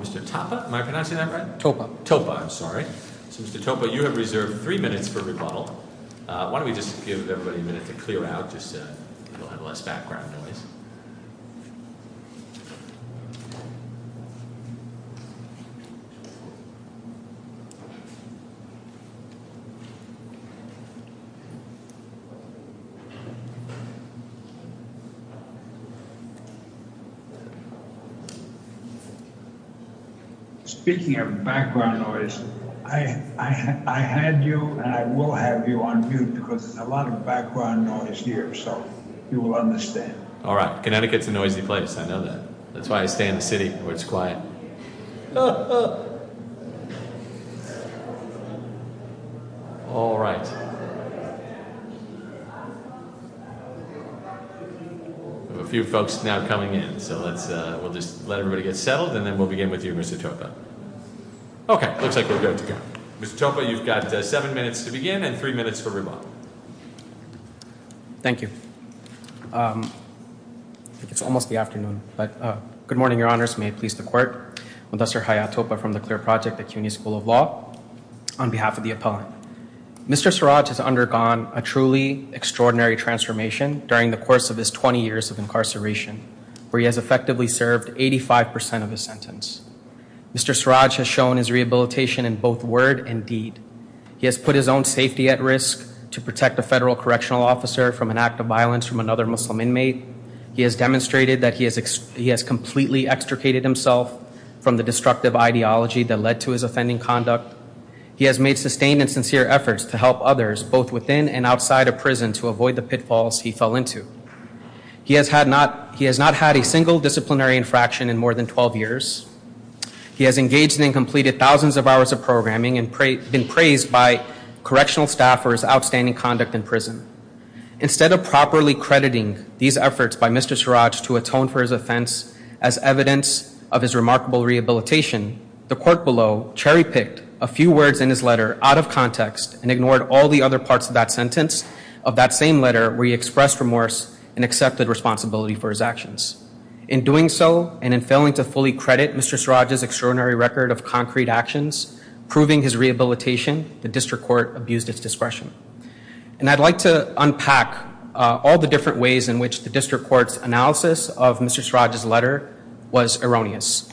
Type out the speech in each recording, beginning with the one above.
Mr. Tapa, am I pronouncing that correctly? Topa. Topa, I'm sorry. So Mr. Tapa, you have reserved three minutes for rebuttal. Why don't we just give everybody a minute to clear out just so we'll have less background noise. Speaking of background noise, I had you and I will have you on mute because there's a lot of background noise here so you will understand. All right. Connecticut's a noisy place, I know that. That's why I stay in the city where it's quiet. All right. We have a few folks now coming in so we'll just let everybody get settled and then we'll begin with you, Mr. Tapa. Okay. Looks like we're good to go. Mr. Tapa, you've got seven minutes to begin and three minutes for rebuttal. Thank you. I think it's almost the afternoon, but good morning, your honors. May it please the court. I'm Professor Haya Topa from the CLEAR Project at CUNY School of Law. On behalf of the appellant, Mr. Siraj has undergone a truly extraordinary transformation during the course of his 20 years of incarceration where he has effectively served 85% of his sentence. Mr. Siraj has shown his rehabilitation in both word and deed. He has put his own safety at risk to protect a federal correctional officer from an act of violence from another Muslim inmate. He has demonstrated that he has completely extricated himself from the destructive ideology that led to his offending conduct. He has made sustained and sincere efforts to help others both within and outside of prison to avoid the pitfalls he fell into. He has not had a single disciplinary infraction in more than 12 years. He has engaged and completed thousands of hours of programming and been praised by correctional staff for his outstanding conduct in prison. Instead of properly crediting these efforts by Mr. Siraj to atone for his offense as evidence of his remarkable rehabilitation, the court below cherry picked a few words in his letter out of context and ignored all the other parts of that sentence of that same letter where he expressed remorse and accepted responsibility for his actions. In doing so and in failing to fully credit Mr. Siraj's extraordinary record of concrete actions, proving his rehabilitation, the district court abused its discretion. And I'd like to unpack all the different ways in which the district court's analysis of Mr. Siraj's letter was erroneous.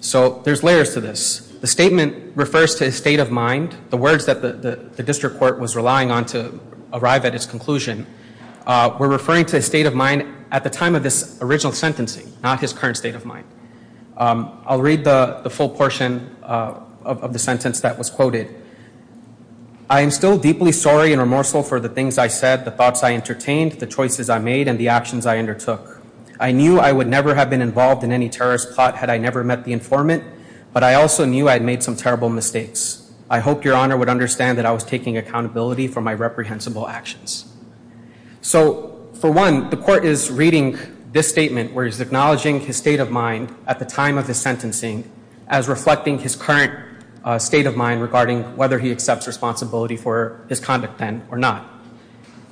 So there's layers to this. The statement refers to a state of mind. The words that the district court was relying on to arrive at its conclusion were referring to a state of mind at the time of this original sentencing, not his current state of mind. I'll read the full portion of the sentence that was quoted. I am still deeply sorry and remorseful for the things I said, the thoughts I entertained, the choices I made, and the actions I undertook. I knew I would never have been involved in any terrorist plot had I never met the informant, but I also knew I'd made some terrible mistakes. I hope your honor would understand that I was taking accountability for my reprehensible actions. So, for one, the court is reading this statement where he's acknowledging his state of mind at the time of his sentencing as reflecting his current state of mind regarding whether he accepts responsibility for his conduct then or not.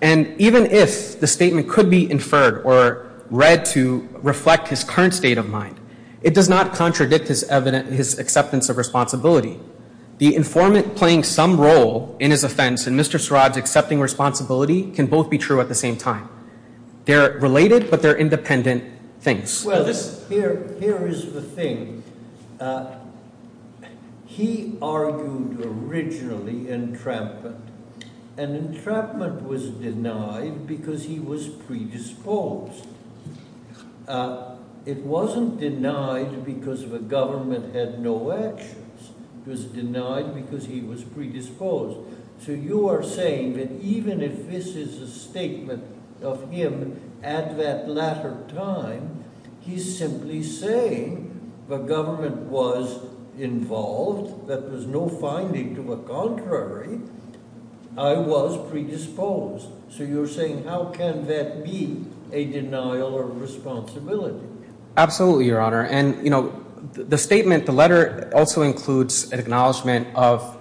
And even if the statement could be inferred or read to reflect his current state of mind, it does not contradict his acceptance of responsibility. The informant playing some role in his offense and Mr. Sarraj accepting responsibility can both be true at the same time. They're related, but they're independent things. Well, here is the thing. He argued originally entrapment, and entrapment was denied because he was predisposed. It wasn't denied because the government had no actions. It was denied because he was predisposed. So, you are saying that even if this is a statement of him at that latter time, he's simply saying the government was involved, there was no finding to a contrary, I was predisposed. So, you're saying how can that be a denial of responsibility? Absolutely, Your Honor. And, you know, the statement, the letter also includes an acknowledgement of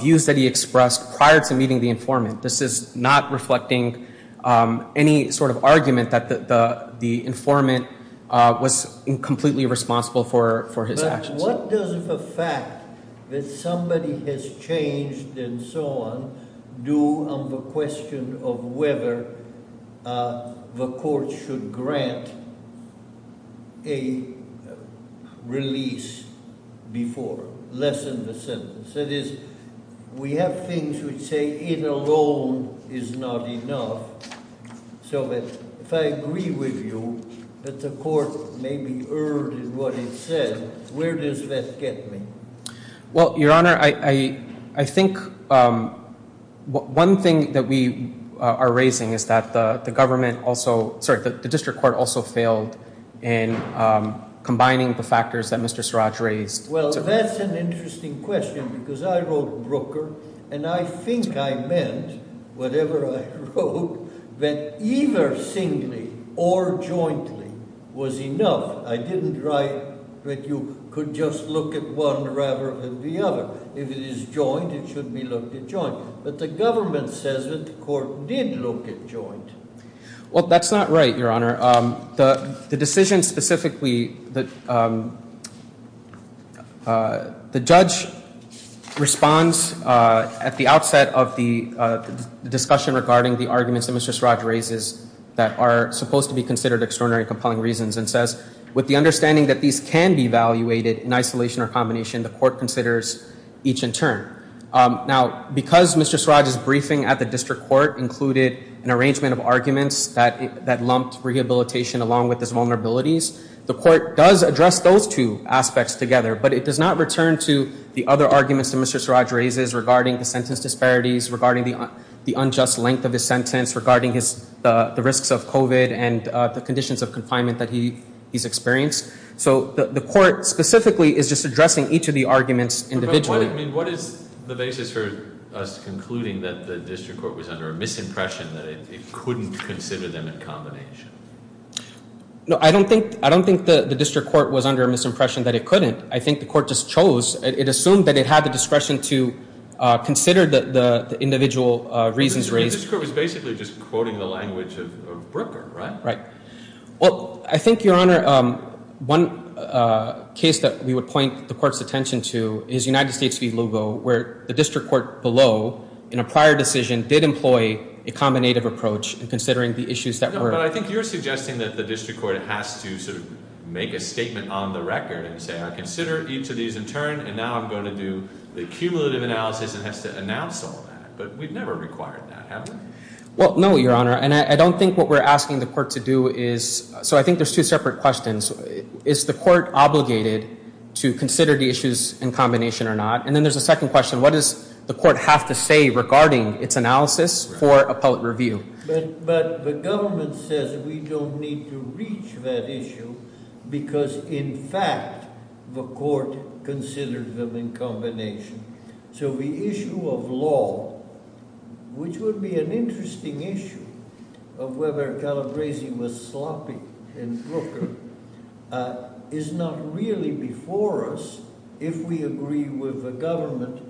views that he expressed prior to meeting the informant. This is not reflecting any sort of argument that the informant was completely responsible for his actions. Now, what does the fact that somebody has changed and so on do on the question of whether the court should grant a release before, lessen the sentence? That is, we have things which say it alone is not enough, so that if I agree with you that the court may be erred in what it says, where does that get me? Well, Your Honor, I think one thing that we are raising is that the district court also failed in combining the factors that Mr. Siraj raised. Well, that's an interesting question because I wrote Brooker, and I think I meant whatever I wrote, that either singly or jointly was enough. I didn't write that you could just look at one rather than the other. If it is joint, it should be looked at joint. But the government says that the court did look at joint. Well, that's not right, Your Honor. The decision specifically, the judge responds at the outset of the discussion regarding the arguments that Mr. Siraj raises that are supposed to be considered extraordinary and compelling reasons and says, with the understanding that these can be evaluated in isolation or combination, the court considers each in turn. Now, because Mr. Siraj's briefing at the district court included an arrangement of arguments that lumped rehabilitation along with his vulnerabilities, the court does address those two aspects together, but it does not return to the other arguments that Mr. Siraj raises regarding the sentence disparities, regarding the unjust length of his sentence, regarding the risks of COVID and the conditions of confinement that he's experienced. So the court specifically is just addressing each of the arguments individually. But what is the basis for us concluding that the district court was under a misimpression that it couldn't consider them in combination? No, I don't think the district court was under a misimpression that it couldn't. I think the court just chose. It assumed that it had the discretion to consider the individual reasons raised. The district court was basically just quoting the language of Brooker, right? Right. Well, I think, Your Honor, one case that we would point the court's attention to is United States v. Lugo, where the district court below, in a prior decision, did employ a combinative approach in considering the issues that were... But I think you're suggesting that the district court has to sort of make a statement on the record and say, I consider each of these in turn, and now I'm going to do the cumulative analysis and has to announce all that. But we've never required that, have we? Well, no, Your Honor. And I don't think what we're asking the court to do is... So I think there's two separate questions. Is the court obligated to consider the issues in combination or not? And then there's a second question. What does the court have to say regarding its analysis for appellate review? But the government says we don't need to reach that issue because, in fact, the court considered them in combination. So the issue of law, which would be an interesting issue of whether Calabresi was sloppy in Brooker, is not really before us if we agree with the government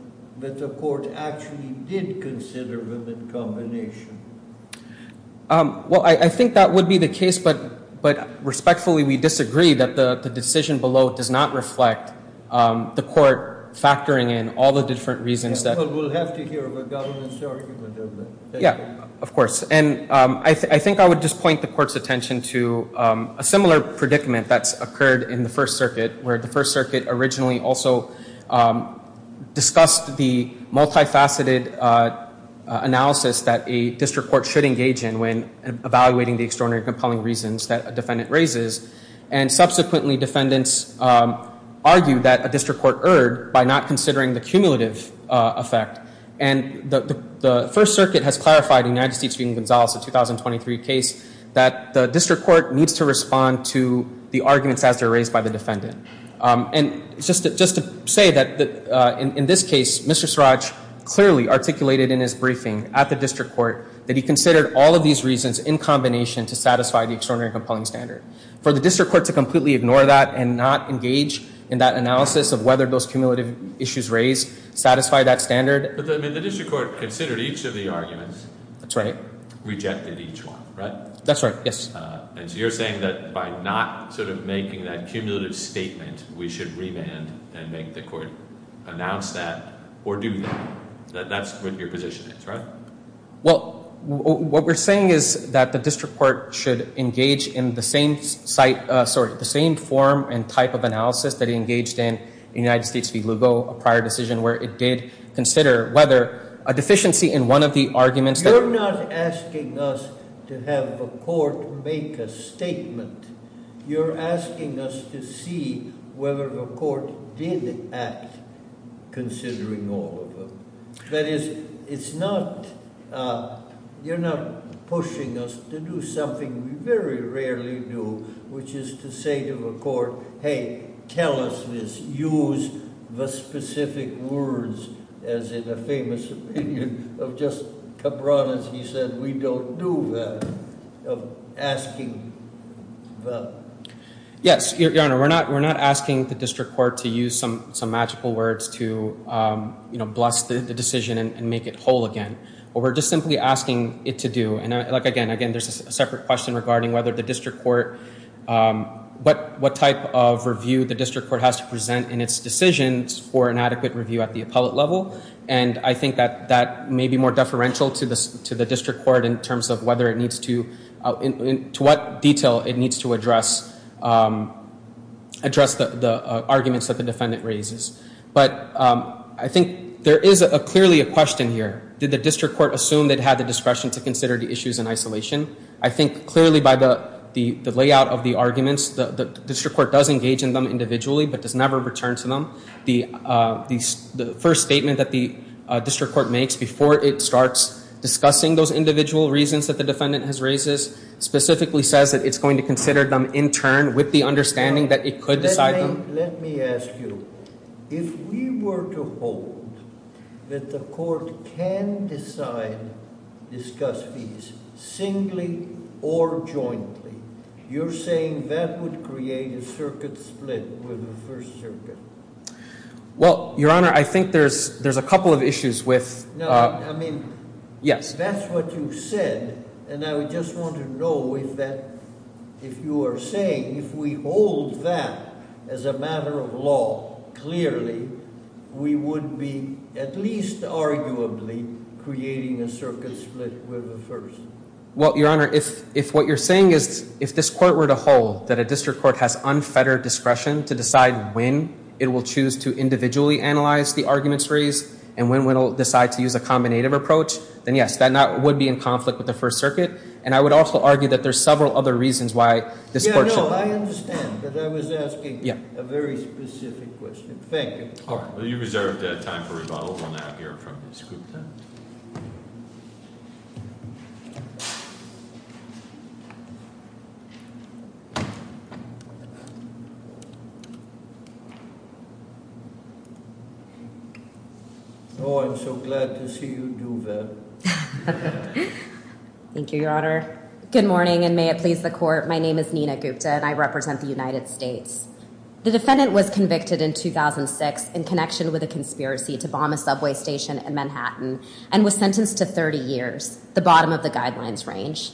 that the court actually did consider them in combination. Well, I think that would be the case. But respectfully, we disagree that the decision below does not reflect the court factoring in all the different reasons that... Well, we'll have to hear the government's argument of that. Yeah, of course. And I think I would just point the court's attention to a similar predicament that's occurred in the First Circuit, where the First Circuit originally also discussed the multifaceted analysis that a district court should engage in when evaluating the extraordinary compelling reasons that a defendant raises. And subsequently, defendants argued that a district court erred by not considering the cumulative effect. And the First Circuit has clarified in the United States v. Gonzales, the 2023 case, that the district court needs to respond to the arguments as they're raised by the defendant. And just to say that in this case, Mr. Siraj clearly articulated in his briefing at the district court that he considered all of these reasons in combination to satisfy the extraordinary compelling standard. For the district court to completely ignore that and not engage in that analysis of whether those cumulative issues raised satisfy that standard. But the district court considered each of the arguments. That's right. Rejected each one, right? That's right, yes. And so you're saying that by not sort of making that cumulative statement, we should remand and make the court announce that or do that. That's what your position is, right? Well, what we're saying is that the district court should engage in the same form and type of analysis that it engaged in in the United States v. Lugo, a prior decision, where it did consider whether a deficiency in one of the arguments that You're not asking us to have the court make a statement. You're asking us to see whether the court did act considering all of them. That is, it's not, you're not pushing us to do something we very rarely do, which is to say to the court, hey, tell us this, use the specific words, as in a famous opinion of Justice Cabranes, he said, we don't do that, of asking. Yes, Your Honor, we're not asking the district court to use some magical words to bless the decision and make it whole again. But we're just simply asking it to do. Again, there's a separate question regarding whether the district court, what type of review the district court has to present in its decisions for an adequate review at the appellate level. And I think that that may be more deferential to the district court in terms of whether it needs to, to what detail it needs to address the arguments that the defendant raises. But I think there is clearly a question here. Did the district court assume they'd had the discretion to consider the issues in isolation? I think clearly by the layout of the arguments, the district court does engage in them individually, but does never return to them. The first statement that the district court makes before it starts discussing those individual reasons that the defendant has raised specifically says that it's going to consider them in turn with the understanding that it could decide them. Let me ask you, if we were to hold that the court can decide, discuss these singly or jointly, you're saying that would create a circuit split with the First Circuit? Well, Your Honor, I think there's a couple of issues with... No, I mean... Yes. If that's what you said, and I would just want to know if that, if you are saying if we hold that as a matter of law clearly, we would be at least arguably creating a circuit split with the First. Well, Your Honor, if what you're saying is if this court were to hold that a district court has unfettered discretion to decide when it will choose to individually analyze the arguments raised, and when it will decide to use a combinative approach, then yes, that would be in conflict with the First Circuit. And I would also argue that there's several other reasons why this court should... Yeah, no, I understand, but I was asking a very specific question. Thank you. All right. Well, you reserved time for rebuttal. We'll now hear from Ms. Gupta. Oh, I'm so glad to see you do that. Thank you, Your Honor. Good morning, and may it please the court, my name is Nina Gupta, and I represent the United States. The defendant was convicted in 2006 in connection with a conspiracy to bomb a subway station in Manhattan and was sentenced to 30 years, the bottom of the guidelines range.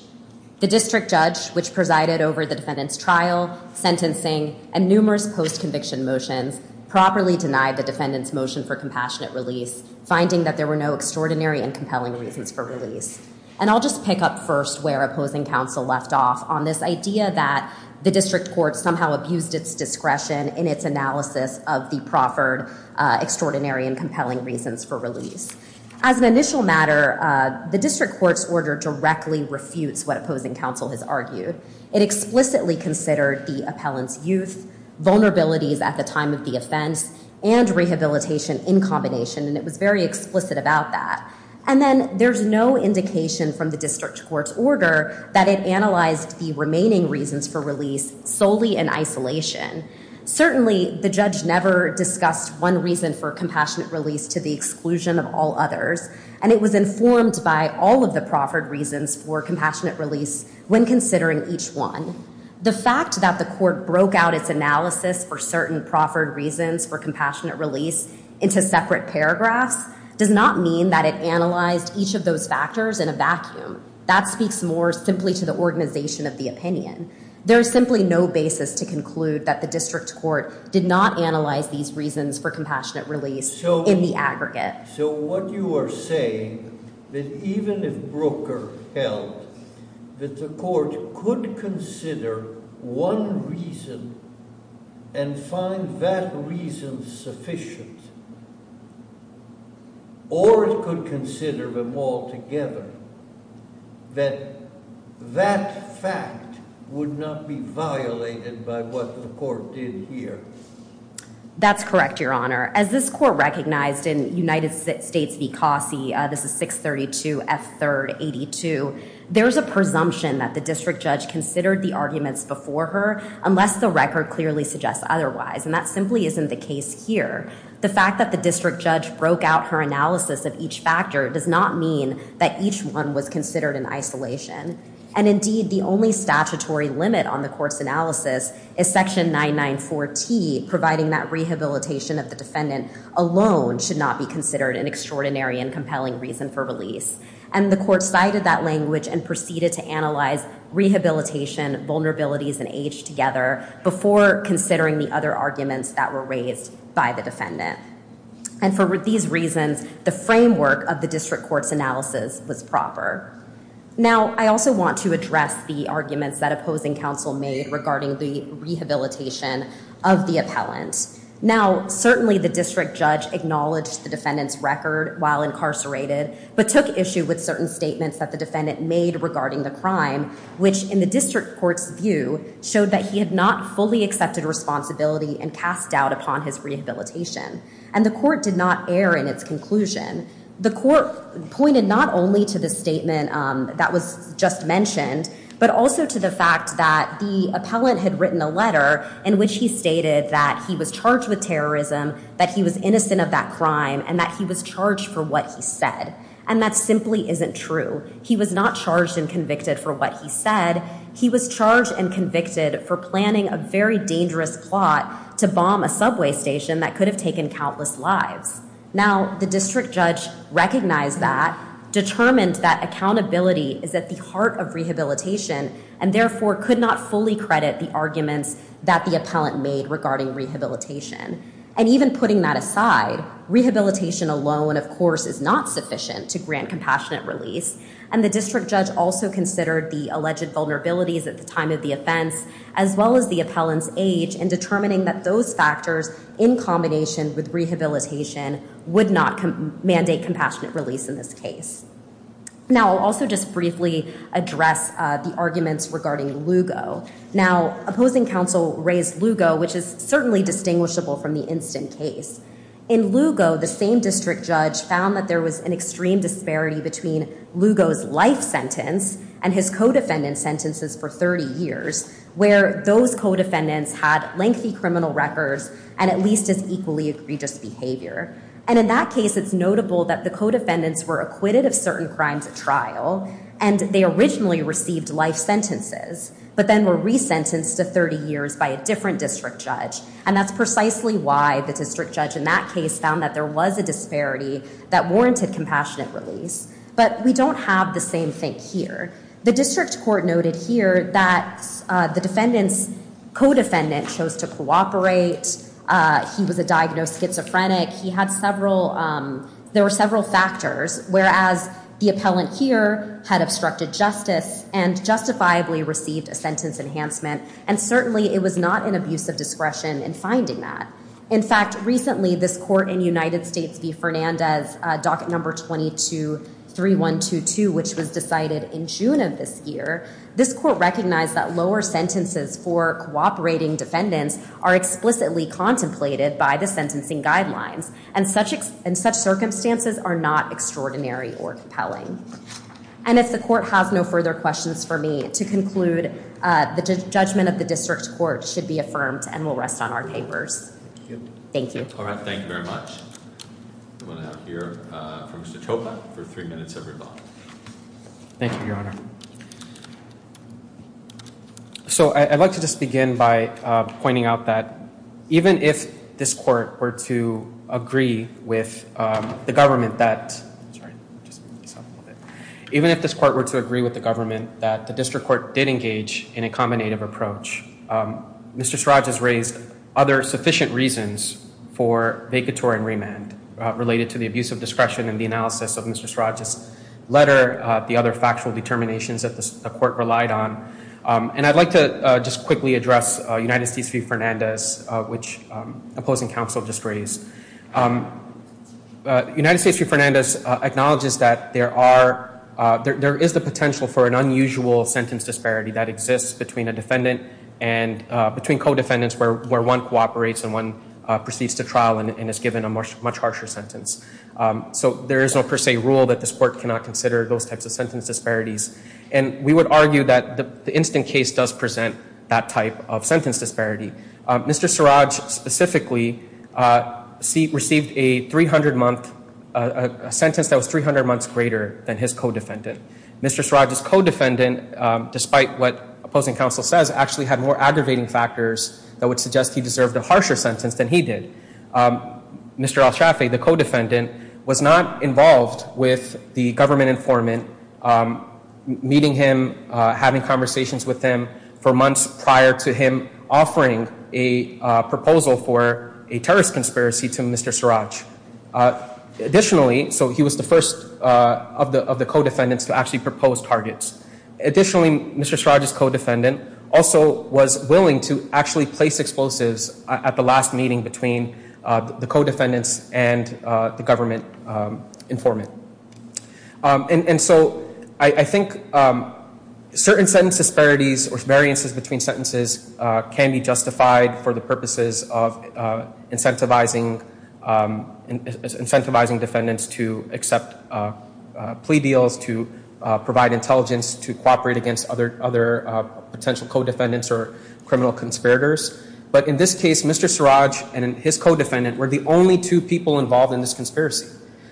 The district judge, which presided over the defendant's trial, sentencing, and numerous post-conviction motions, properly denied the defendant's motion for compassionate release, finding that there were no extraordinary and compelling reasons for release. And I'll just pick up first where opposing counsel left off on this idea that the district court somehow abused its discretion in its analysis of the proffered extraordinary and compelling reasons for release. As an initial matter, the district court's order directly refutes what opposing counsel has argued. It explicitly considered the appellant's youth, vulnerabilities at the time of the offense, and rehabilitation in combination, and it was very explicit about that. And then there's no indication from the district court's order that it analyzed the remaining reasons for release solely in isolation. Certainly, the judge never discussed one reason for compassionate release to the exclusion of all others, and it was informed by all of the proffered reasons for compassionate release when considering each one. The fact that the court broke out its analysis for certain proffered reasons for compassionate release into separate paragraphs does not mean that it analyzed each of those factors in a vacuum. That speaks more simply to the organization of the opinion. There is simply no basis to conclude that the district court did not analyze these reasons for compassionate release in the aggregate. So what you are saying, that even if Brooker held that the court could consider one reason and find that reason sufficient, or it could consider them all together, that that fact would not be violated by what the court did here? That's correct, Your Honor. As this court recognized in United States v. Cossie, this is 632 F3rd 82, there's a presumption that the district judge considered the arguments before her unless the record clearly suggests otherwise, and that simply isn't the case here. The fact that the district judge broke out her analysis of each factor does not mean that each one was considered in isolation. And indeed, the only statutory limit on the court's analysis is section 994T, providing that rehabilitation of the defendant alone should not be considered an extraordinary and compelling reason for release. And the court cited that language and proceeded to analyze rehabilitation, vulnerabilities, and age together before considering the other arguments that were raised by the defendant. And for these reasons, the framework of the district court's analysis was proper. Now, I also want to address the arguments that opposing counsel made regarding the rehabilitation of the appellant. Now, certainly the district judge acknowledged the defendant's record while incarcerated, but took issue with certain statements that the defendant made regarding the crime, which, in the district court's view, showed that he had not fully accepted responsibility and cast doubt upon his rehabilitation. And the court did not err in its conclusion. The court pointed not only to the statement that was just mentioned, but also to the fact that the appellant had written a letter in which he stated that he was charged with terrorism, that he was innocent of that crime, and that he was charged for what he said. And that simply isn't true. He was not charged and convicted for what he said. He was charged and convicted for planning a very dangerous plot to bomb a subway station that could have taken countless lives. Now, the district judge recognized that, determined that accountability is at the heart of rehabilitation, and therefore could not fully credit the arguments that the appellant made regarding rehabilitation. And even putting that aside, rehabilitation alone, of course, is not sufficient to grant compassionate release. And the district judge also considered the alleged vulnerabilities at the time of the offense, as well as the appellant's age in determining that those factors, in combination with rehabilitation, would not mandate compassionate release in this case. Now, I'll also just briefly address the arguments regarding Lugo. Now, opposing counsel raised Lugo, which is certainly distinguishable from the instant case. In Lugo, the same district judge found that there was an extreme disparity between Lugo's life sentence and his co-defendant's sentences for 30 years, where those co-defendants had lengthy criminal records and at least as equally egregious behavior. And in that case, it's notable that the co-defendants were acquitted of certain crimes at trial, and they originally received life sentences, but then were resentenced to 30 years by a different district judge. And that's precisely why the district judge in that case found that there was a disparity that warranted compassionate release. But we don't have the same thing here. The district court noted here that the defendant's co-defendant chose to cooperate. He was a diagnosed schizophrenic. He had several – there were several factors, whereas the appellant here had obstructed justice and justifiably received a sentence enhancement, and certainly it was not an abuse of discretion in finding that. In fact, recently, this court in United States v. Fernandez, docket number 22-3122, which was decided in June of this year, this court recognized that lower sentences for cooperating defendants are explicitly contemplated by the sentencing guidelines, and such circumstances are not extraordinary or compelling. And if the court has no further questions for me, to conclude, the judgment of the district court should be affirmed and will rest on our papers. Thank you. All right. Thank you very much. I'm going to hear from Mr. Chopra for three minutes of rebuttal. Thank you, Your Honor. So I'd like to just begin by pointing out that even if this court were to agree with the government that – even if this court were to agree with the government that the district court did engage in a combinative approach, Mr. Sraj has raised other sufficient reasons for vacatory and remand related to the abuse of discretion and the analysis of Mr. Sraj's letter, the other factual determinations that the court relied on. And I'd like to just quickly address United States v. Fernandez, which opposing counsel just raised. United States v. Fernandez acknowledges that there are – there is the potential for an unusual sentence disparity that exists between a defendant and – between co-defendants where one cooperates and one proceeds to trial and is given a much harsher sentence. So there is no per se rule that this court cannot consider those types of sentence disparities. And we would argue that the instant case does present that type of sentence disparity. Mr. Sraj specifically received a 300-month – a sentence that was 300 months greater than his co-defendant. Mr. Sraj's co-defendant, despite what opposing counsel says, actually had more aggravating factors that would suggest he deserved a harsher sentence than he did. Mr. El Shafee, the co-defendant, was not involved with the government informant, meeting him, having conversations with him for months prior to him offering a proposal for a terrorist conspiracy to Mr. Sraj. Additionally, so he was the first of the co-defendants to actually propose targets. Additionally, Mr. Sraj's co-defendant also was willing to actually place explosives at the last meeting between the co-defendants and the government informant. And so I think certain sentence disparities or variances between sentences can be justified for the purposes of incentivizing defendants to accept plea deals, to provide intelligence, to cooperate against other potential co-defendants or criminal conspirators. But in this case, Mr. Sraj and his co-defendant were the only two people involved in this conspiracy.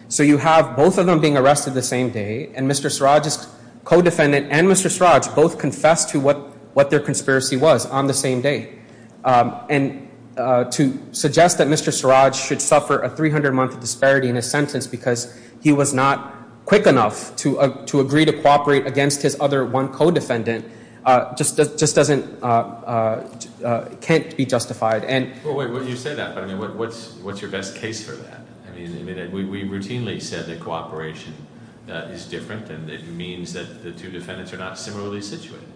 So you have both of them being arrested the same day, and Mr. Sraj's co-defendant and Mr. Sraj both confessed to what their conspiracy was on the same day. And to suggest that Mr. Sraj should suffer a 300-month disparity in his sentence because he was not quick enough to agree to cooperate against his other one co-defendant just doesn't, can't be justified. Well, wait, you say that, but I mean, what's your best case for that? I mean, we routinely said that cooperation is different and that it means that the two defendants are not similarly situated.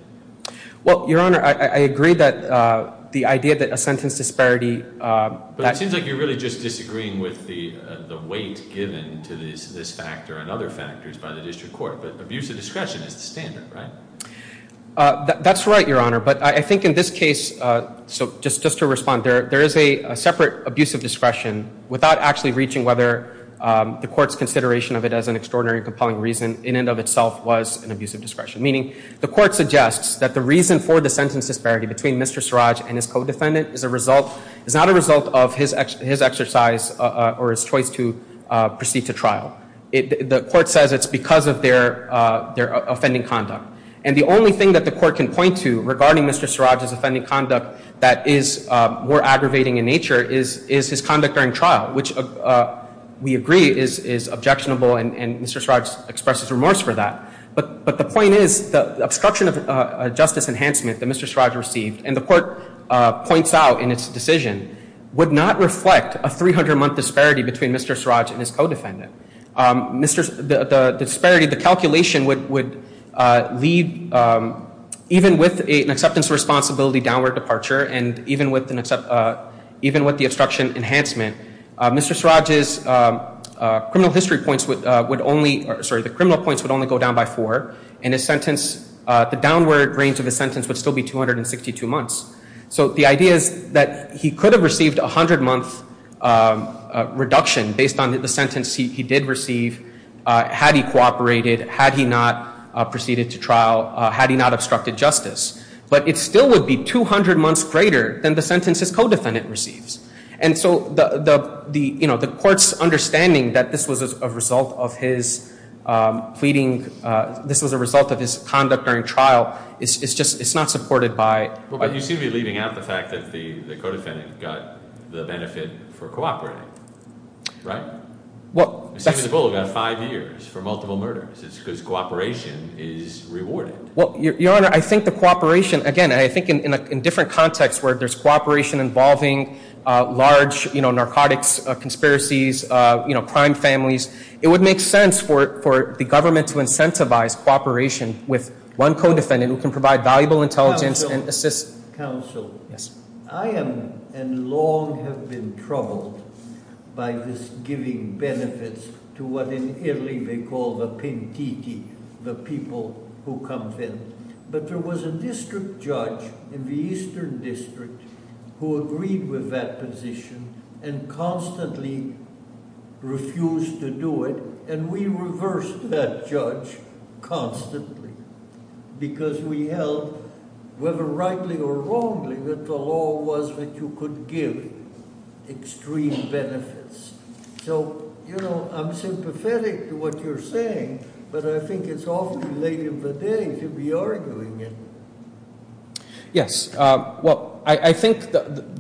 Well, Your Honor, I agree that the idea that a sentence disparity... But it seems like you're really just disagreeing with the weight given to this factor and other factors by the district court. But abuse of discretion is the standard, right? That's right, Your Honor. But I think in this case, just to respond, there is a separate abuse of discretion without actually reaching whether the court's consideration of it as an extraordinary and compelling reason in and of itself was an abuse of discretion. Meaning, the court suggests that the reason for the sentence disparity between Mr. Sraj and his co-defendant is not a result of his exercise or his choice to proceed to trial. The court says it's because of their offending conduct. And the only thing that the court can point to regarding Mr. Sraj's offending conduct that is more aggravating in nature is his conduct during trial, which we agree is objectionable and Mr. Sraj expresses remorse for that. But the point is, the obstruction of justice enhancement that Mr. Sraj received, and the court points out in its decision, would not reflect a 300-month disparity between Mr. Sraj and his co-defendant. The disparity, the calculation would lead, even with an acceptance of responsibility downward departure and even with the obstruction enhancement, Mr. Sraj's criminal history points would only go down by four and the downward range of his sentence would still be 262 months. So the idea is that he could have received a 100-month reduction based on the sentence he did receive had he cooperated, had he not proceeded to trial, had he not obstructed justice. But it still would be 200 months greater than the sentence his co-defendant receives. And so the court's understanding that this was a result of his pleading, this was a result of his conduct during trial, is just not supported by... But you seem to be leaving out the fact that the co-defendant got the benefit for cooperating, right? Well... It seems as though he got five years for multiple murders. It's because cooperation is rewarded. Well, Your Honor, I think the cooperation, again, I think in different contexts where there's cooperation involving large narcotics conspiracies, crime families, it would make sense for the government to incentivize cooperation with one co-defendant who can provide valuable intelligence and assist... Counsel. Yes. I am and long have been troubled by this giving benefits to what in Italy they call the pentiti, the people who come in. But there was a district judge in the Eastern District who agreed with that position and constantly refused to do it, and we reversed that judge constantly because we held, whether rightly or wrongly, that the law was that you could give extreme benefits. So, you know, I'm sympathetic to what you're saying, but I think it's awfully late in the day to be arguing it. Yes. Well, I think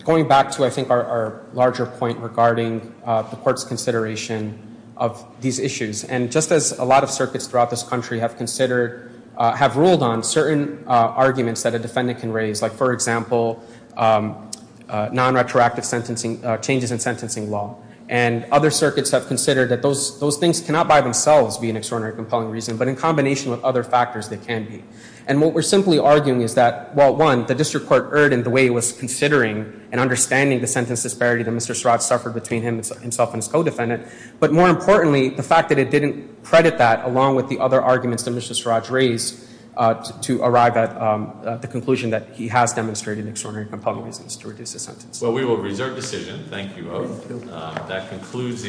going back to, I think, our larger point regarding the court's consideration of these issues, and just as a lot of circuits throughout this country have ruled on certain arguments that a defendant can raise, like, for example, non-retroactive changes in sentencing law, and other circuits have considered that those things cannot by themselves be an extraordinarily compelling reason, but in combination with other factors they can be. And what we're simply arguing is that, well, one, the district court erred in the way it was considering and understanding the sentence disparity that Mr. Surratt suffered between himself and his co-defendant, but more importantly, the fact that it didn't credit that along with the other arguments that Mr. Surratt's raised to arrive at the conclusion that he has demonstrated extraordinary compelling reasons to reduce his sentence. Well, we will reserve decision. Thank you both. Thank you.